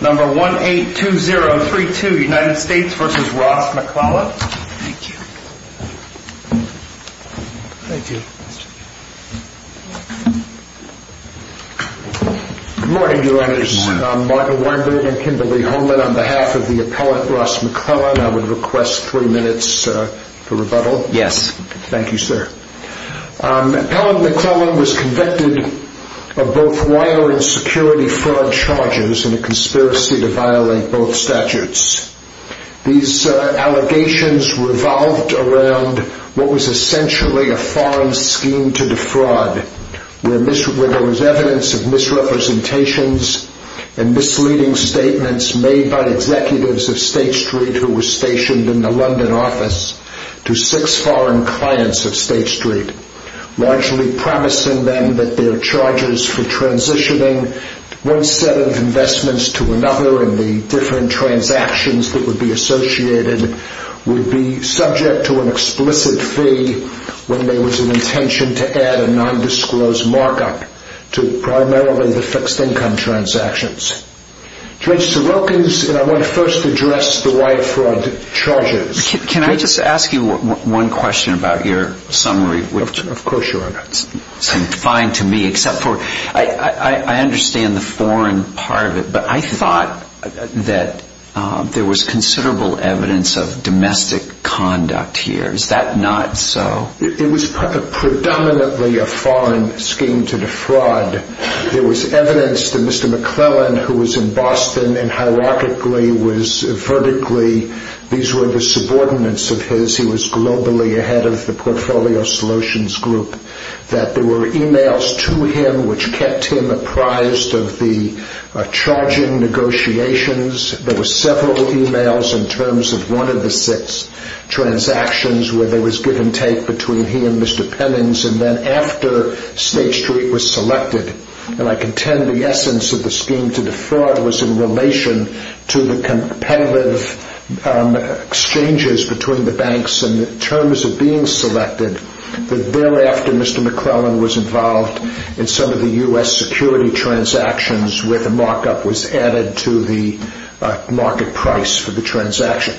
Number 182032 United States v. Ross McLellan, on behalf of the appellant Ross McLellan I would request three minutes for rebuttal. Thank you sir. Appellant McLellan was convicted of both wire and security fraud charges and a conspiracy to violate both statutes. These allegations revolved around what was essentially a foreign scheme to defraud where there was evidence of misrepresentations and misleading statements made by executives of State Street who were stationed in the London office to six foreign clients of State Street, largely promising them that their charges for transitioning one set of investments to another and the different transactions that would be associated would be subject to an explicit fee when there was an intention to add a nondisclosed markup to primarily the fixed income transactions. Judge Sorokin, I want to first address the wire fraud charges. Can I just ask you one question about your summary? Of course your honor. Fine to me except for I understand the foreign part of it but I thought that there was considerable evidence of domestic conduct here. Is that not so? It was predominantly a foreign scheme to defraud. There was evidence that Mr. McLellan who was in Boston and hierarchically was vertically, these were the subordinates of his. He was globally ahead of the portfolio solutions group. That there were emails to him which kept him apprised of the charging negotiations. There were several emails in terms of one of the six transactions where there was give and take between he and Mr. Pennings and then after State Street was selected and I contend the essence of the scheme to defraud was in relation to the competitive exchanges between the banks in terms of being selected. Thereafter Mr. McLellan was involved in some of the U.S. security transactions where the markup was added to the market price for the transaction.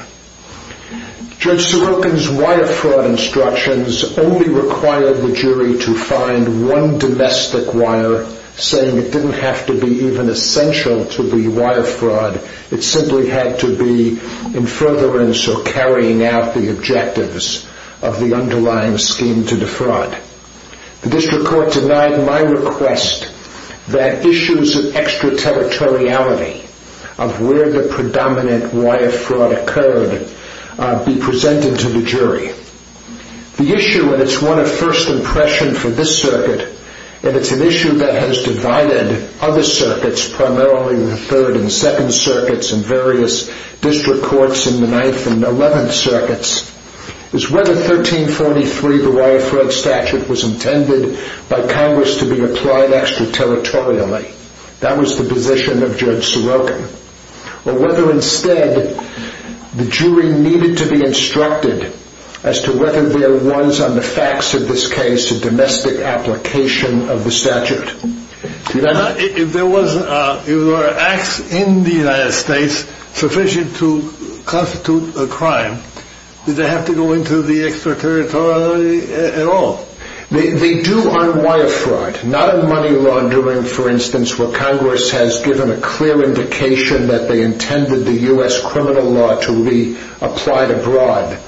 Judge Sorokin's wire fraud instructions only required the jury to find one domestic wire saying it didn't have to be even essential to the wire fraud. It simply had to be in furtherance or carrying out the objectives of the underlying scheme to defraud. The district court denied my request that issues of extraterritoriality of where the predominant wire fraud occurred be presented to the jury. The issue and it's one of first impression for this circuit and it's an issue that has divided other circuits primarily the 3rd and 2nd circuits and various district courts in the 9th and 11th circuits is whether 1343 the statute was intended by Congress to be applied extraterritorially that was the position of Judge Sorokin or whether instead the jury needed to be instructed as to whether there was on the facts of this case a domestic application of the statute. If there were acts in the United States sufficient to constitute a crime, did they have to go into the extraterritoriality at all? They do on wire fraud not on money laundering for instance where Congress has given a clear indication that they intended the U.S. criminal law to be applied abroad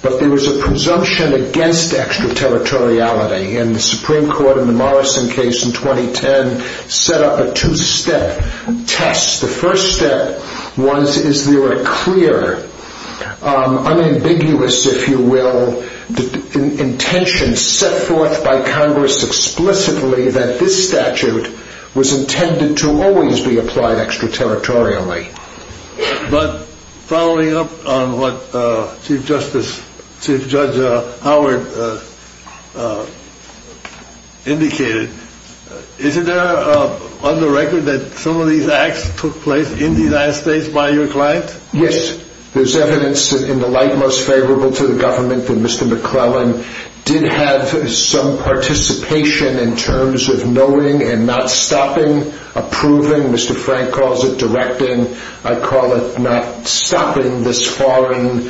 but there was a presumption against extraterritoriality and the Supreme Court in the Morrison case in 2010 set up a two-step test. The first step was is there a clear unambiguous if you will intention set forth by Congress explicitly that this statute was intended to always be applied extraterritorially. But following up on what Chief Judge Howard indicated, is it there on the record that some of these acts took place in the United States by your client? Yes, there is evidence in the light most favorable to the government that Mr. McClellan did have some participation in terms of knowing and not stopping approving, Mr. Frank calls it directing, I call it not stopping these foreign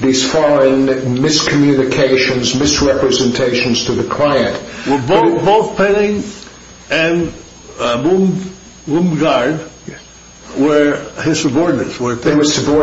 miscommunications, misrepresentations to the client. Both Penning and Boomgard were his subordinates. The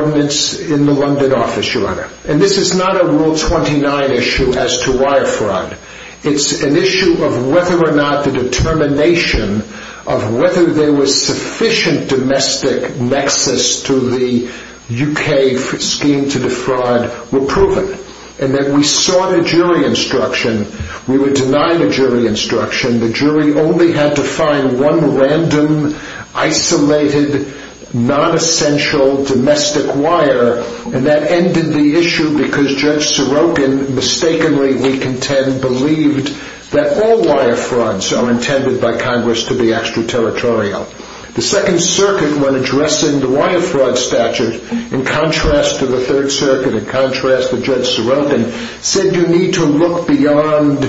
jury only had to find one random isolated non-essential domestic wire and that ended the issue because Judge Sorokin mistakenly we contend believed that all wire frauds are intended by Congress to be extraterritorial. The Second Circuit when addressing the wire fraud statute in contrast to the Third Circuit in contrast to Judge Sorokin said you need to look beyond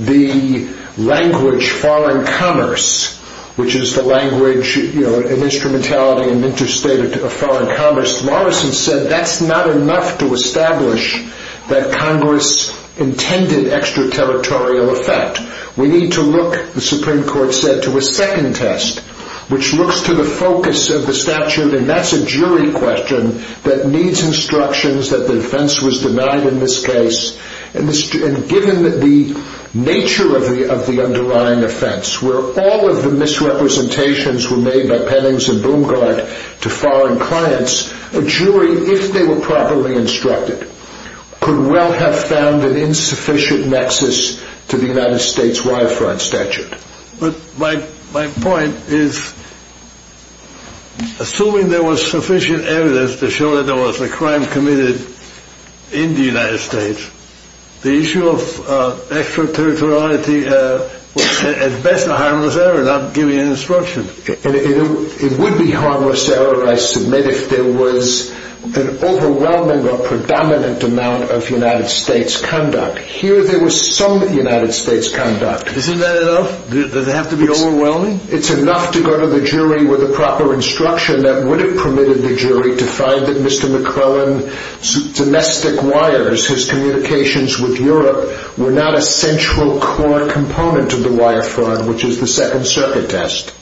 the language foreign commerce which is the language and instrumentality and interstate of foreign commerce. Justice Morrison said that's not enough to establish that Congress intended extraterritorial effect. We need to look the Supreme Court said to a second test which looks to the focus of the statute and that's a jury question that needs instructions that the defense was denied in this case and given the nature of the underlying offense where all of the misrepresentations were made by Penning and Boomgard to foreign clients. A jury if they were properly instructed could well have found an insufficient nexus to the United States wire fraud statute. But my point is assuming there was sufficient evidence to show that there was a crime committed in the United States the issue of extraterritoriality at best a harmless error not giving an instruction. It would be harmless error I submit if there was an overwhelming or predominant amount of United States conduct. Here there was some United States conduct. Isn't that enough? Does it have to be overwhelming? It's enough to go to the jury with the proper instruction that would have permitted the jury to find that Mr. McClellan's domestic wires his communications with Europe were not a central core component of the wire fraud which is the second circuit test.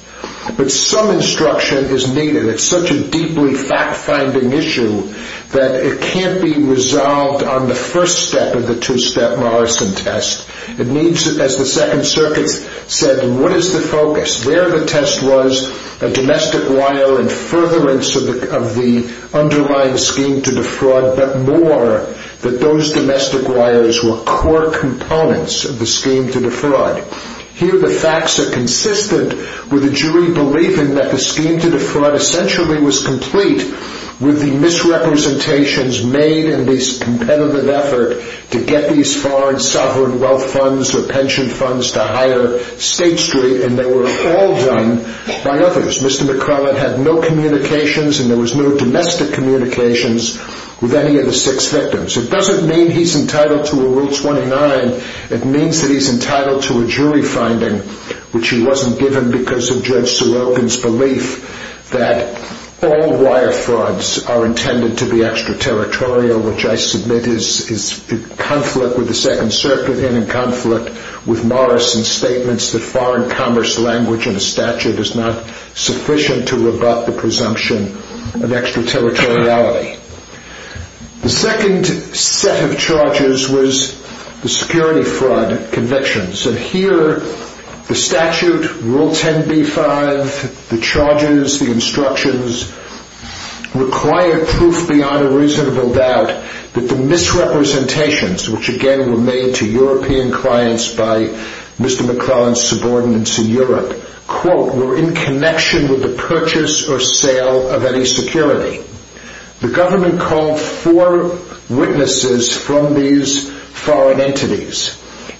But some instruction is needed. It's such a deeply fact-finding issue that it can't be resolved on the first step of the two-step Morrison test. It needs as the second circuit said what is the focus? There the test was a domestic wire and furtherance of the underlying scheme to defraud but more that those domestic wires were core components of the scheme to defraud. Here the facts are consistent with the jury believing that the scheme to defraud essentially was complete with the misrepresentations made in this competitive effort to get these foreign sovereign wealth funds or pension funds to hire State Street and they were all done by others. Mr. McClellan had no communications and there was no domestic communications with any of the six victims. It doesn't mean he's entitled to a rule 29. It means that he's entitled to a jury finding which he wasn't given because of Judge Sulokin's belief that all wire frauds are intended to be extraterritorial which I submit is in conflict with the second circuit and in conflict with Morrison's statements that foreign commerce language in the statute is not sufficient. The second set of charges was the security fraud convictions and here the statute rule 10b-5 the charges the instructions require proof beyond a reasonable doubt that the misrepresentations which again were made to European clients by Mr. McClellan's subordinates in Europe were in connection with the fraud. Mr. McClellan was not entitled to purchase or sale of any security. The government called four witnesses from these foreign entities.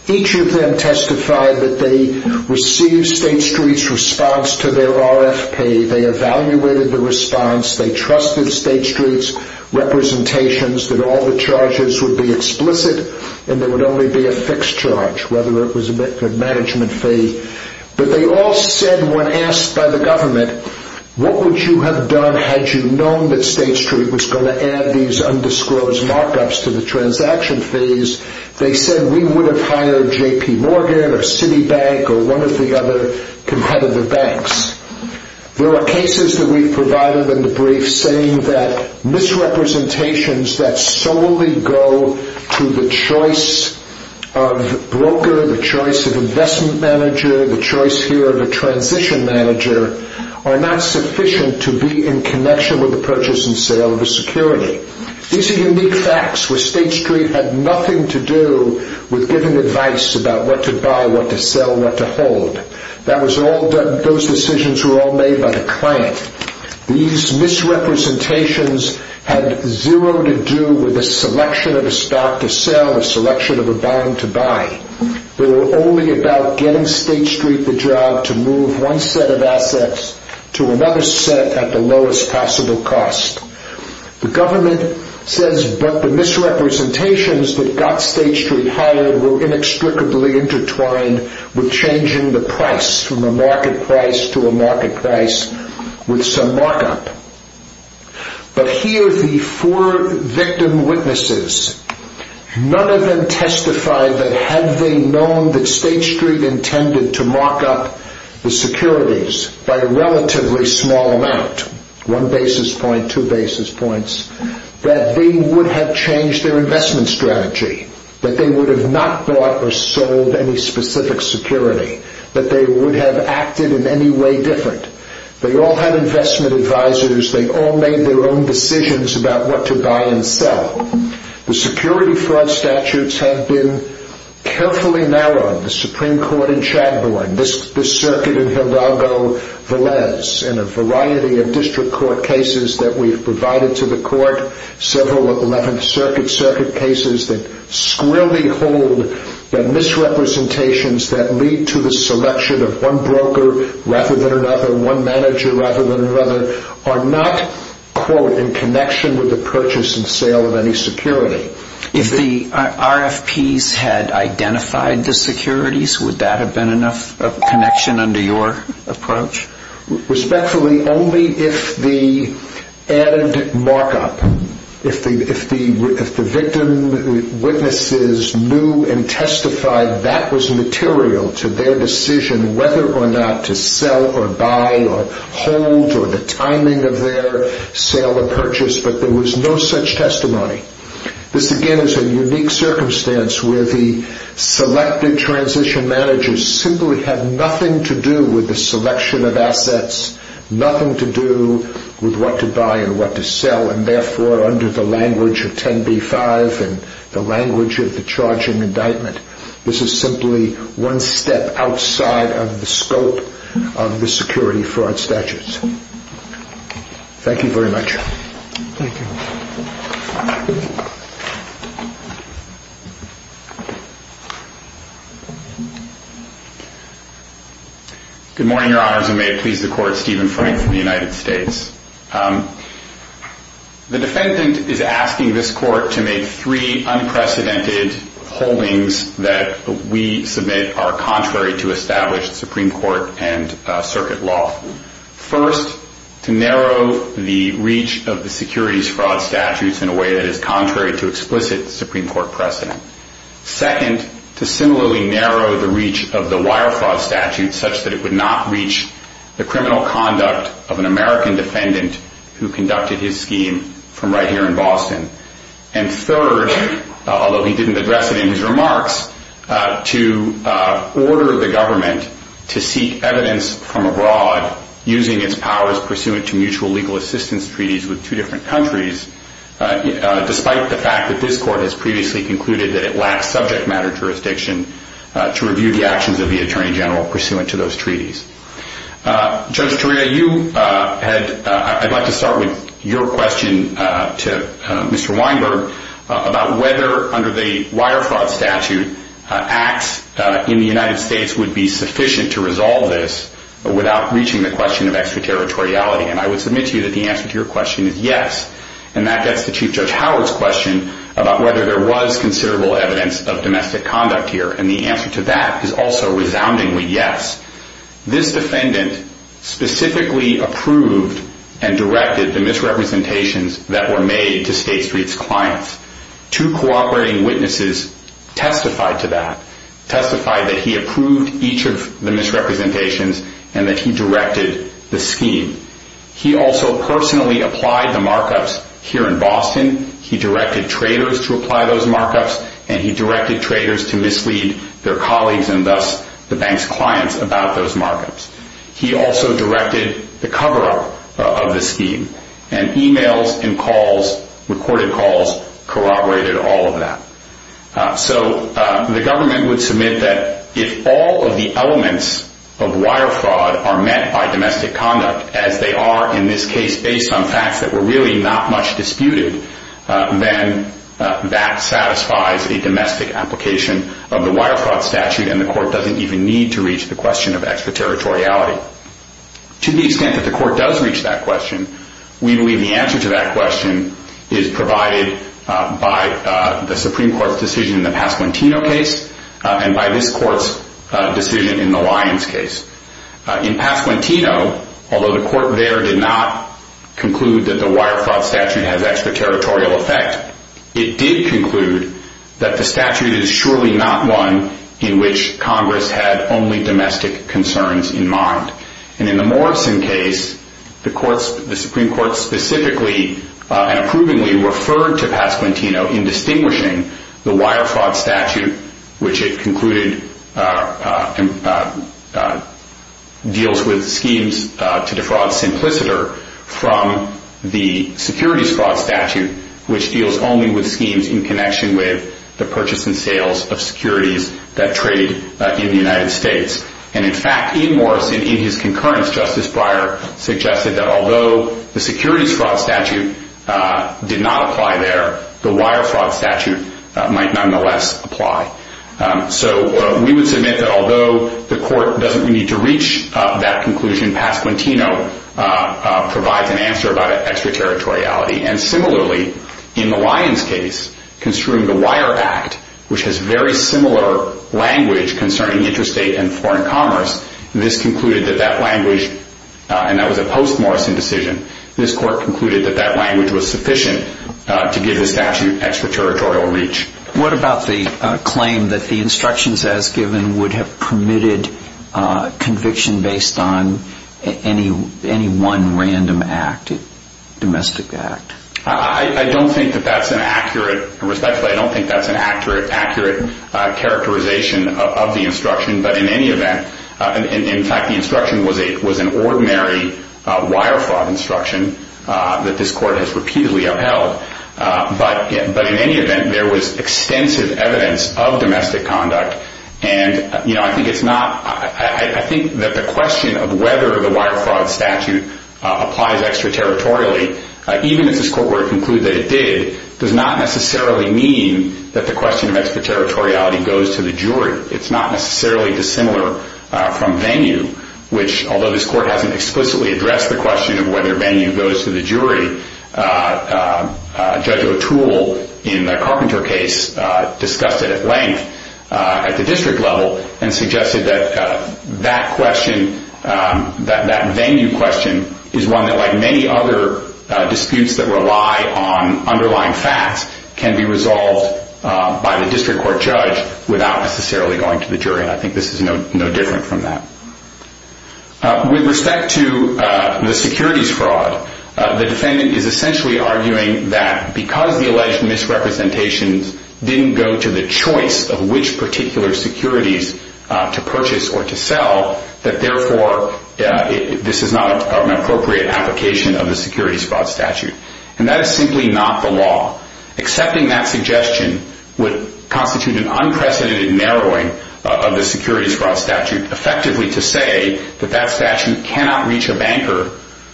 Each of them testified that they received State Street's response to their RFP, they evaluated the response, they trusted State Street's representations that all the charges would be explicit and there would only be a fixed charge whether it was a management fee. But they all said when asked by the government what would you have done had you known that State Street was going to add these undisclosed markups to the transaction fees they said we would have hired JP Morgan or Citibank or one of the other competitive banks. There are cases that we've provided in the brief saying that misrepresentations that solely go to the choice of broker, the choice of investment manager, the choice here of a transition manager are not sufficient to be in connection with the purchase and sale of a security. These are unique facts where State Street had nothing to do with giving advice about what to buy, what to sell, what to hold. Those decisions were all made by the client. These misrepresentations had zero to do with the selection of a stock to sell, the selection of a bond to buy. They were only about getting State Street the job to move one set of assets to another set at the lowest possible cost. The government says but the misrepresentations that got State Street hired were inextricably intertwined with changing the price from a market price to a market price with some markup. But here the four victim witnesses, none of them testified that had they known that State Street intended to mark up the securities by a relatively small amount, one basis point, two basis points, that they would have changed their investment strategy, that they would have not bought or sold any specific security, that they would have acted in any way different. They all had investment advisors, they all made their own decisions about what to buy and sell. The security fraud statutes have been carefully narrowed. The Supreme Court in Chadbourne, this circuit in Hildago Velez, and a variety of district court cases that we've provided to the court, several 11th Circuit cases that squirrelly hold the misrepresentations that lead to the selection of one broker rather than another, one broker. One manager rather than another, are not, quote, in connection with the purchase and sale of any security. If the RFPs had identified the securities, would that have been enough of a connection under your approach? Respectfully, only if the added markup, if the victim witnesses knew and testified that was material to their decision whether or not to sell or buy or hold or the timing of their sale or purchase, but there was no such testimony. This again is a unique circumstance where the selected transition managers simply have nothing to do with the selection of assets, nothing to do with what to buy and what to sell, and therefore under the language of 10b-5 and the language of the charging indictment, this is simply one step outside of the scope of the security fraud statutes. Thank you very much. Thank you. Good morning, Your Honors, and may it please the Court, Stephen Frank from the United States. The defendant is asking this Court to make three unprecedented holdings that we submit are contrary to established Supreme Court and circuit law. First, to narrow the reach of the securities fraud statutes in a way that is contrary to explicit Supreme Court precedent. Second, to similarly narrow the reach of the wire fraud statutes such that it would not reach the criminal conduct of an American defendant who conducted his scheme from right here in Boston. And third, although he didn't address it in his remarks, to order the government to seek evidence from abroad using its powers pursuant to mutual legal assistance treaties with two different countries, despite the fact that this Court has previously concluded that it lacks subject matter jurisdiction to review the actions of the Attorney General pursuant to those treaties. Judge Toria, I'd like to start with your question to Mr. Weinberg about whether, under the wire fraud statute, acts in the United States would be sufficient to resolve this without reaching the question of extraterritoriality. And I would submit to you that the answer to your question is yes, and that gets to Chief Judge Howard's question about whether there was considerable evidence of domestic conduct here, and the answer to that is also resoundingly yes. This defendant specifically approved and directed the misrepresentations that were made to State Street's clients. Two cooperating witnesses testified to that, testified that he approved each of the misrepresentations and that he directed the scheme. He also personally applied the markups here in Boston. He directed traders to apply those markups, and he directed traders to mislead their colleagues, and thus the bank's clients, about those markups. He also directed the cover-up of the scheme, and emails and calls, recorded calls, corroborated all of that. So the government would submit that if all of the elements of wire fraud are met by domestic conduct, as they are in this case based on facts that were really not much disputed, then that satisfies a domestic application of the wire fraud statute, and the court doesn't even need to reach the question of extraterritoriality. To the extent that the court does reach that question, we believe the answer to that question is provided by the Supreme Court's decision in the Pasquantino case, and by this court's decision in the Lyons case. In Pasquantino, although the court there did not conclude that the wire fraud statute has extraterritorial effect, it did conclude that the statute is surely not one in which Congress had only domestic concerns in mind. In the Morrison case, the Supreme Court specifically and approvingly referred to Pasquantino in distinguishing the wire fraud statute, which it concluded deals with schemes to defraud simpliciter, from the securities fraud statute, which deals only with schemes in connection with the purchase and sales of securities that trade in the United States. In fact, in Morrison, in his concurrence, Justice Breyer suggested that although the securities fraud statute did not apply there, the wire fraud statute might nonetheless apply. So we would submit that although the court doesn't need to reach that conclusion, Pasquantino provides an answer about extraterritoriality. And similarly, in the Lyons case, concerning the Wire Act, which has very similar language concerning interstate and foreign commerce, this concluded that that language, and that was a post-Morrison decision, this court concluded that that language was sufficient to give the statute extraterritorial reach. What about the claim that the instructions as given would have permitted conviction based on any one random act, domestic act? I don't think that that's an accurate, respectfully, I don't think that's an accurate characterization of the instruction. In fact, the instruction was an ordinary wire fraud instruction that this court has repeatedly upheld. But in any event, there was extensive evidence of domestic conduct. And I think that the question of whether the wire fraud statute applies extraterritorially, even if this court were to conclude that it did, does not necessarily mean that the question of extraterritoriality goes to the jury. It's not necessarily dissimilar from venue, which, although this court hasn't explicitly addressed the question of whether venue goes to the jury, Judge O'Toole, in the Carpenter case, discussed it at length at the district level and suggested that that question, that venue question, is one that, like many other disputes that rely on underlying facts, can be resolved by the district court judge without necessarily going to the jury. And I think this is no different from that. With respect to the securities fraud, the defendant is essentially arguing that because the alleged misrepresentations didn't go to the choice of which particular securities to purchase or to sell, that therefore this is not an appropriate application of the securities fraud statute. And that is simply not the law. Accepting that suggestion would constitute an unprecedented narrowing of the securities fraud statute, effectively to say that that statute cannot reach a banker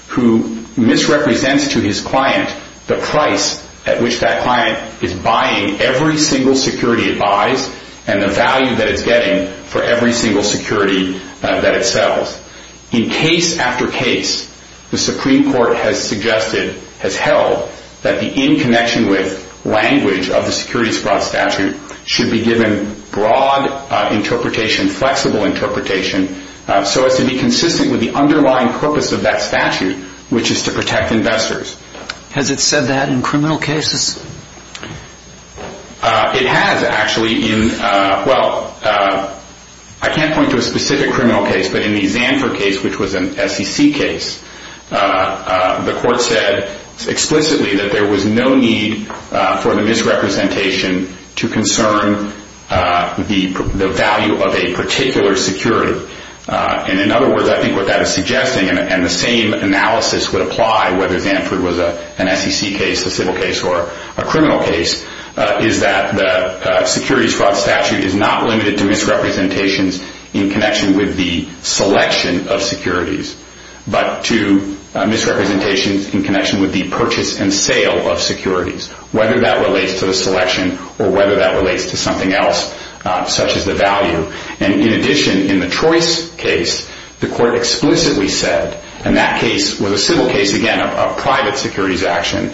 who misrepresents to his client the price at which that client is buying every single security it buys and the value that it's getting for every single security that it sells. In case after case, the Supreme Court has suggested, has held, that the in connection with language of the securities fraud statute should be given broad interpretation, flexible interpretation, so as to be consistent with the underlying purpose of that statute, which is to protect investors. Has it said that in criminal cases? It has, actually. Well, I can't point to a specific criminal case, but in the Zanford case, which was an SEC case, the court said explicitly that there was no need for the misrepresentation to concern the value of a particular security. And in other words, I think what that is suggesting, and the same analysis would apply whether Zanford was an SEC case, a civil case, or a criminal case, is that the securities fraud statute is not limited to misrepresentations in connection with the selection of securities, but to misrepresentations in connection with the purchase and sale of securities, whether that relates to the selection or whether that relates to something else, such as the value. And in addition, in the Trois case, the court explicitly said, and that case was a civil case, again, a private securities action,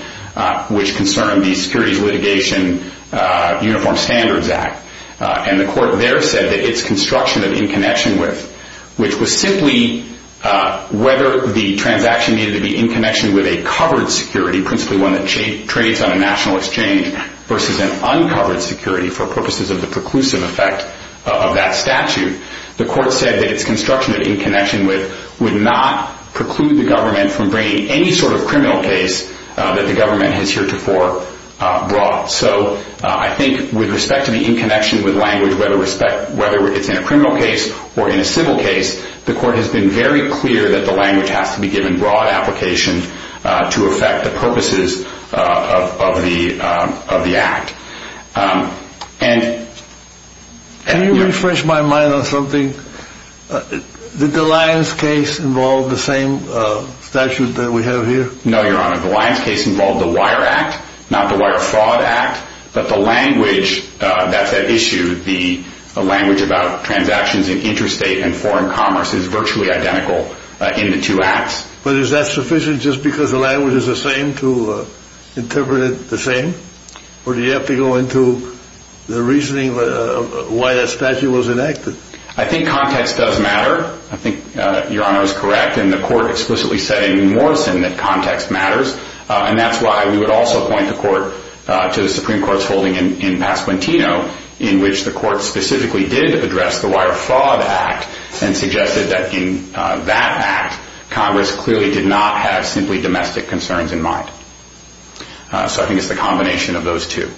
which concerned the Securities Litigation Uniform Standards Act. And the court there said that its construction of in connection with, which was simply whether the transaction needed to be in connection with a covered security, principally one that trades on a national exchange, versus an uncovered security for purposes of the preclusive effect of that statute, the court said that its construction of in connection with would not preclude the government from bringing any sort of criminal case that the government has heretofore brought. So I think with respect to the in connection with language, whether it's in a criminal case or in a civil case, the court has been very clear that the language has to be given broad application to affect the purposes of the act. And... Can you refresh my mind on something? Did the Lyons case involve the same statute that we have here? No, Your Honor. The Lyons case involved the Wire Act, not the Wire Fraud Act. But the language that's at issue, the language about transactions in interstate and foreign commerce is virtually identical in the two acts. But is that sufficient just because the language is the same to interpret it the same? Or do you have to go into the reasoning of why that statute was enacted? I think context does matter. I think Your Honor is correct. And the court explicitly said in Morrison that context matters. And that's why we would also point the court to the Supreme Court's holding in Pasquantino in which the court specifically did address the Wire Fraud Act and suggested that in that act, Congress clearly did not have simply domestic concerns in mind. So I think it's the combination of those two.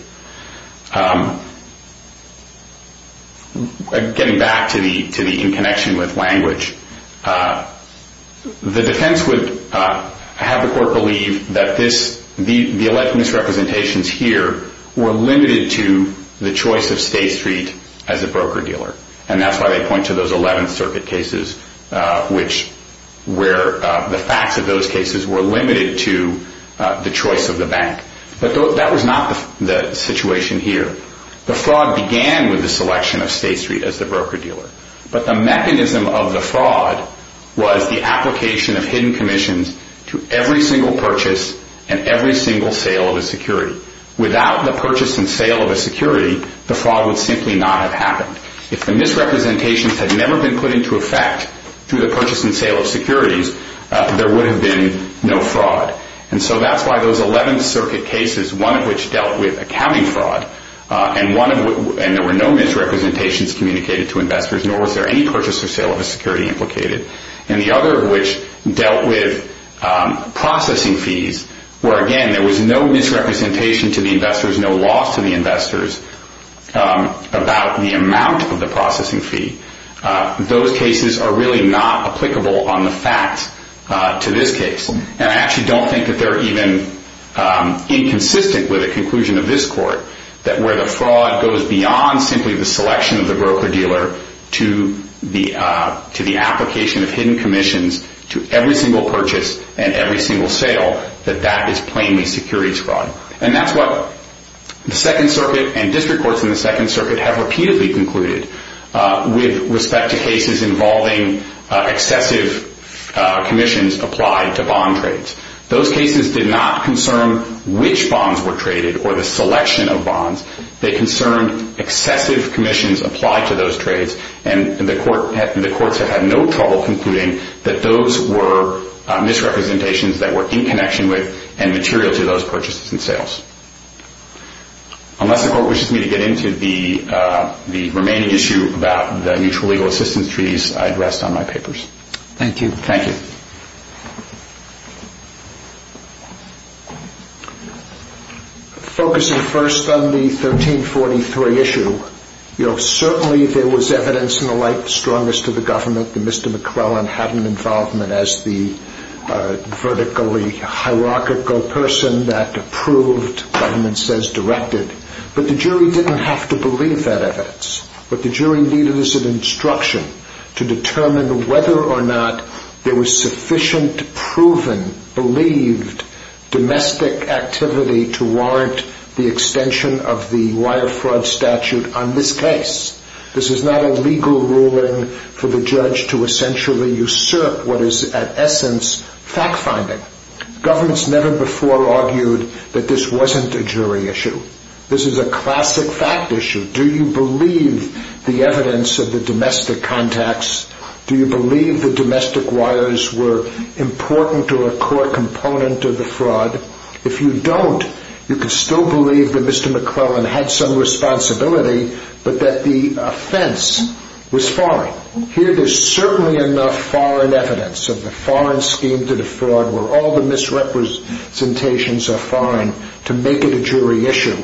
Getting back to the in connection with language, the defense would have the court believe that the alleged misrepresentations here were limited to the choice of State Street as a broker-dealer. And that's why they point to those 11th Circuit cases where the facts of those cases were limited to the choice of the bank. But that was not the situation here. The fraud began with the selection of State Street as the broker-dealer. But the mechanism of the fraud was the application of hidden commissions to every single purchase and every single sale of a security. Without the purchase and sale of a security, the fraud would simply not have happened. If the misrepresentations had never been put into effect through the purchase and sale of securities, there would have been no fraud. And so that's why those 11th Circuit cases, one of which dealt with accounting fraud, and there were no misrepresentations communicated to investors, nor was there any purchase or sale of a security implicated. And the other of which dealt with processing fees, where again there was no misrepresentation to the investors, no loss to the investors about the amount of the processing fee. Those cases are really not applicable on the facts to this case. And I actually don't think that they're even inconsistent with the conclusion of this Court, that where the fraud goes beyond simply the selection of the broker-dealer to the application of hidden commissions to every single purchase and every single sale, that that is plainly securities fraud. And that's what the 2nd Circuit and district courts in the 2nd Circuit have repeatedly concluded with respect to cases involving excessive commissions applied to bond trades. Those cases did not concern which bonds were traded or the selection of bonds. They concerned excessive commissions applied to those trades, and the courts have had no trouble concluding that those were misrepresentations that were in connection with and material to those purchases and sales. Unless the Court wishes me to get into the remaining issue about the mutual legal assistance treaties, I'd rest on my papers. Thank you. Thank you. Focusing first on the 1343 issue, certainly there was evidence in the light strongest to the government that Mr. McClellan had an involvement as the vertically hierarchical person that approved, government says directed, but the jury didn't have to believe that evidence. But the jury needed as an instruction to determine whether or not there was sufficient proven, believed, domestic activity to warrant the extension of the wire fraud statute on this case. This is not a legal ruling for the judge to essentially usurp what is at essence fact-finding. Governments never before argued that this wasn't a jury issue. This is a classic fact issue. Do you believe the evidence of the domestic contacts? Do you believe the domestic wires were important to a core component of the fraud? If you don't, you can still believe that Mr. McClellan had some responsibility, but that the offense was foreign. Here there's certainly enough foreign evidence of the foreign scheme to the fraud where all the misrepresentations are foreign to make it a jury issue,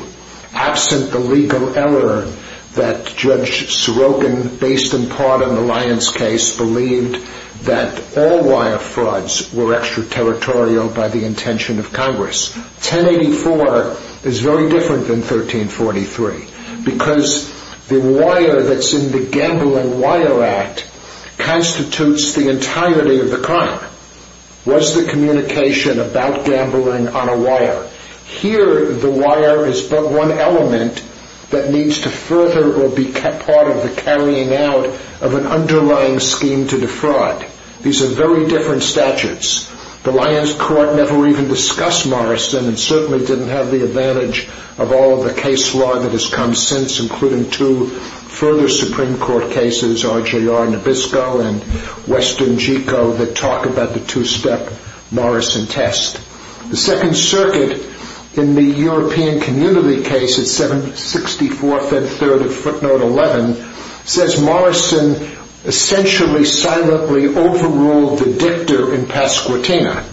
absent the legal error that Judge Sorokin, based in part on the Lyons case, believed that all wire frauds were extraterritorial by the intention of Congress. 1084 is very different than 1343 because the wire that's in the Gambling Wire Act constitutes the entirety of the crime. What's the communication about gambling on a wire? Here the wire is but one element that needs to further or be part of the carrying out of an underlying scheme to defraud. These are very different statutes. The Lyons Court never even discussed Morrison and certainly didn't have the advantage of all of the case law that has come since, including two further Supreme Court cases, RJR Nabisco and Western JICO, that talk about the two-step Morrison test. The Second Circuit in the European Community case at 764 Fed Third of footnote 11 says Morrison essentially silently overruled the dictator in Pasquatina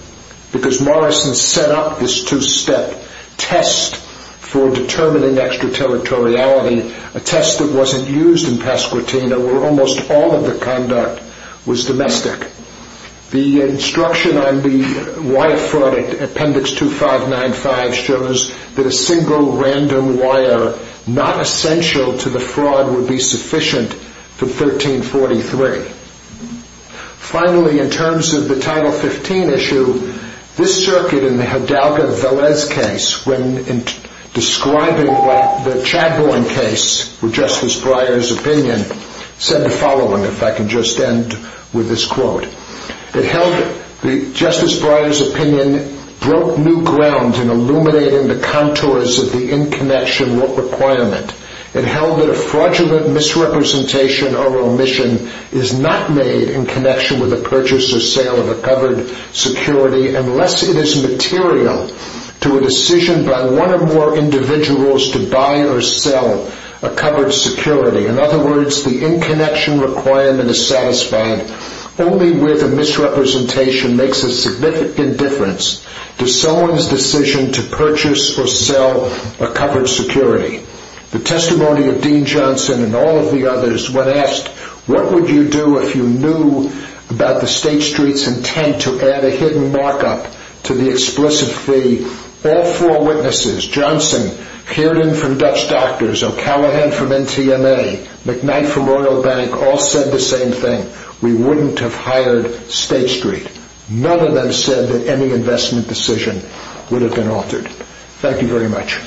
because Morrison set up this two-step test for determining extraterritoriality, a test that wasn't used in Pasquatina where almost all of the conduct was domestic. The instruction on the wire fraud at appendix 2595 shows that a single random wire not essential to the fraud would be sufficient for 1343. Finally, in terms of the Title 15 issue, this circuit in the Hidalgo-Velez case when describing the Chadbourne case with Justice Breyer's opinion said the following, if I can just end with this quote, It held that Justice Breyer's opinion broke new ground in illuminating the contours of the in-connection requirement. It held that a fraudulent misrepresentation or omission is not made in connection with the purchase or sale of a covered security unless it is material to a decision by one or more individuals to buy or sell a covered security. In other words, the in-connection requirement is satisfied only where the misrepresentation makes a significant difference to someone's decision to purchase or sell a covered security. The testimony of Dean Johnson and all of the others when asked, what would you do if you knew about the State Street's intent to add a hidden markup to the explicit fee, all four witnesses, Johnson, Kiernan from Dutch Doctors, O'Callaghan from NTMA, McKnight from Royal Bank, all said the same thing, we wouldn't have hired State Street. None of them said that any investment decision would have been altered. Thank you very much.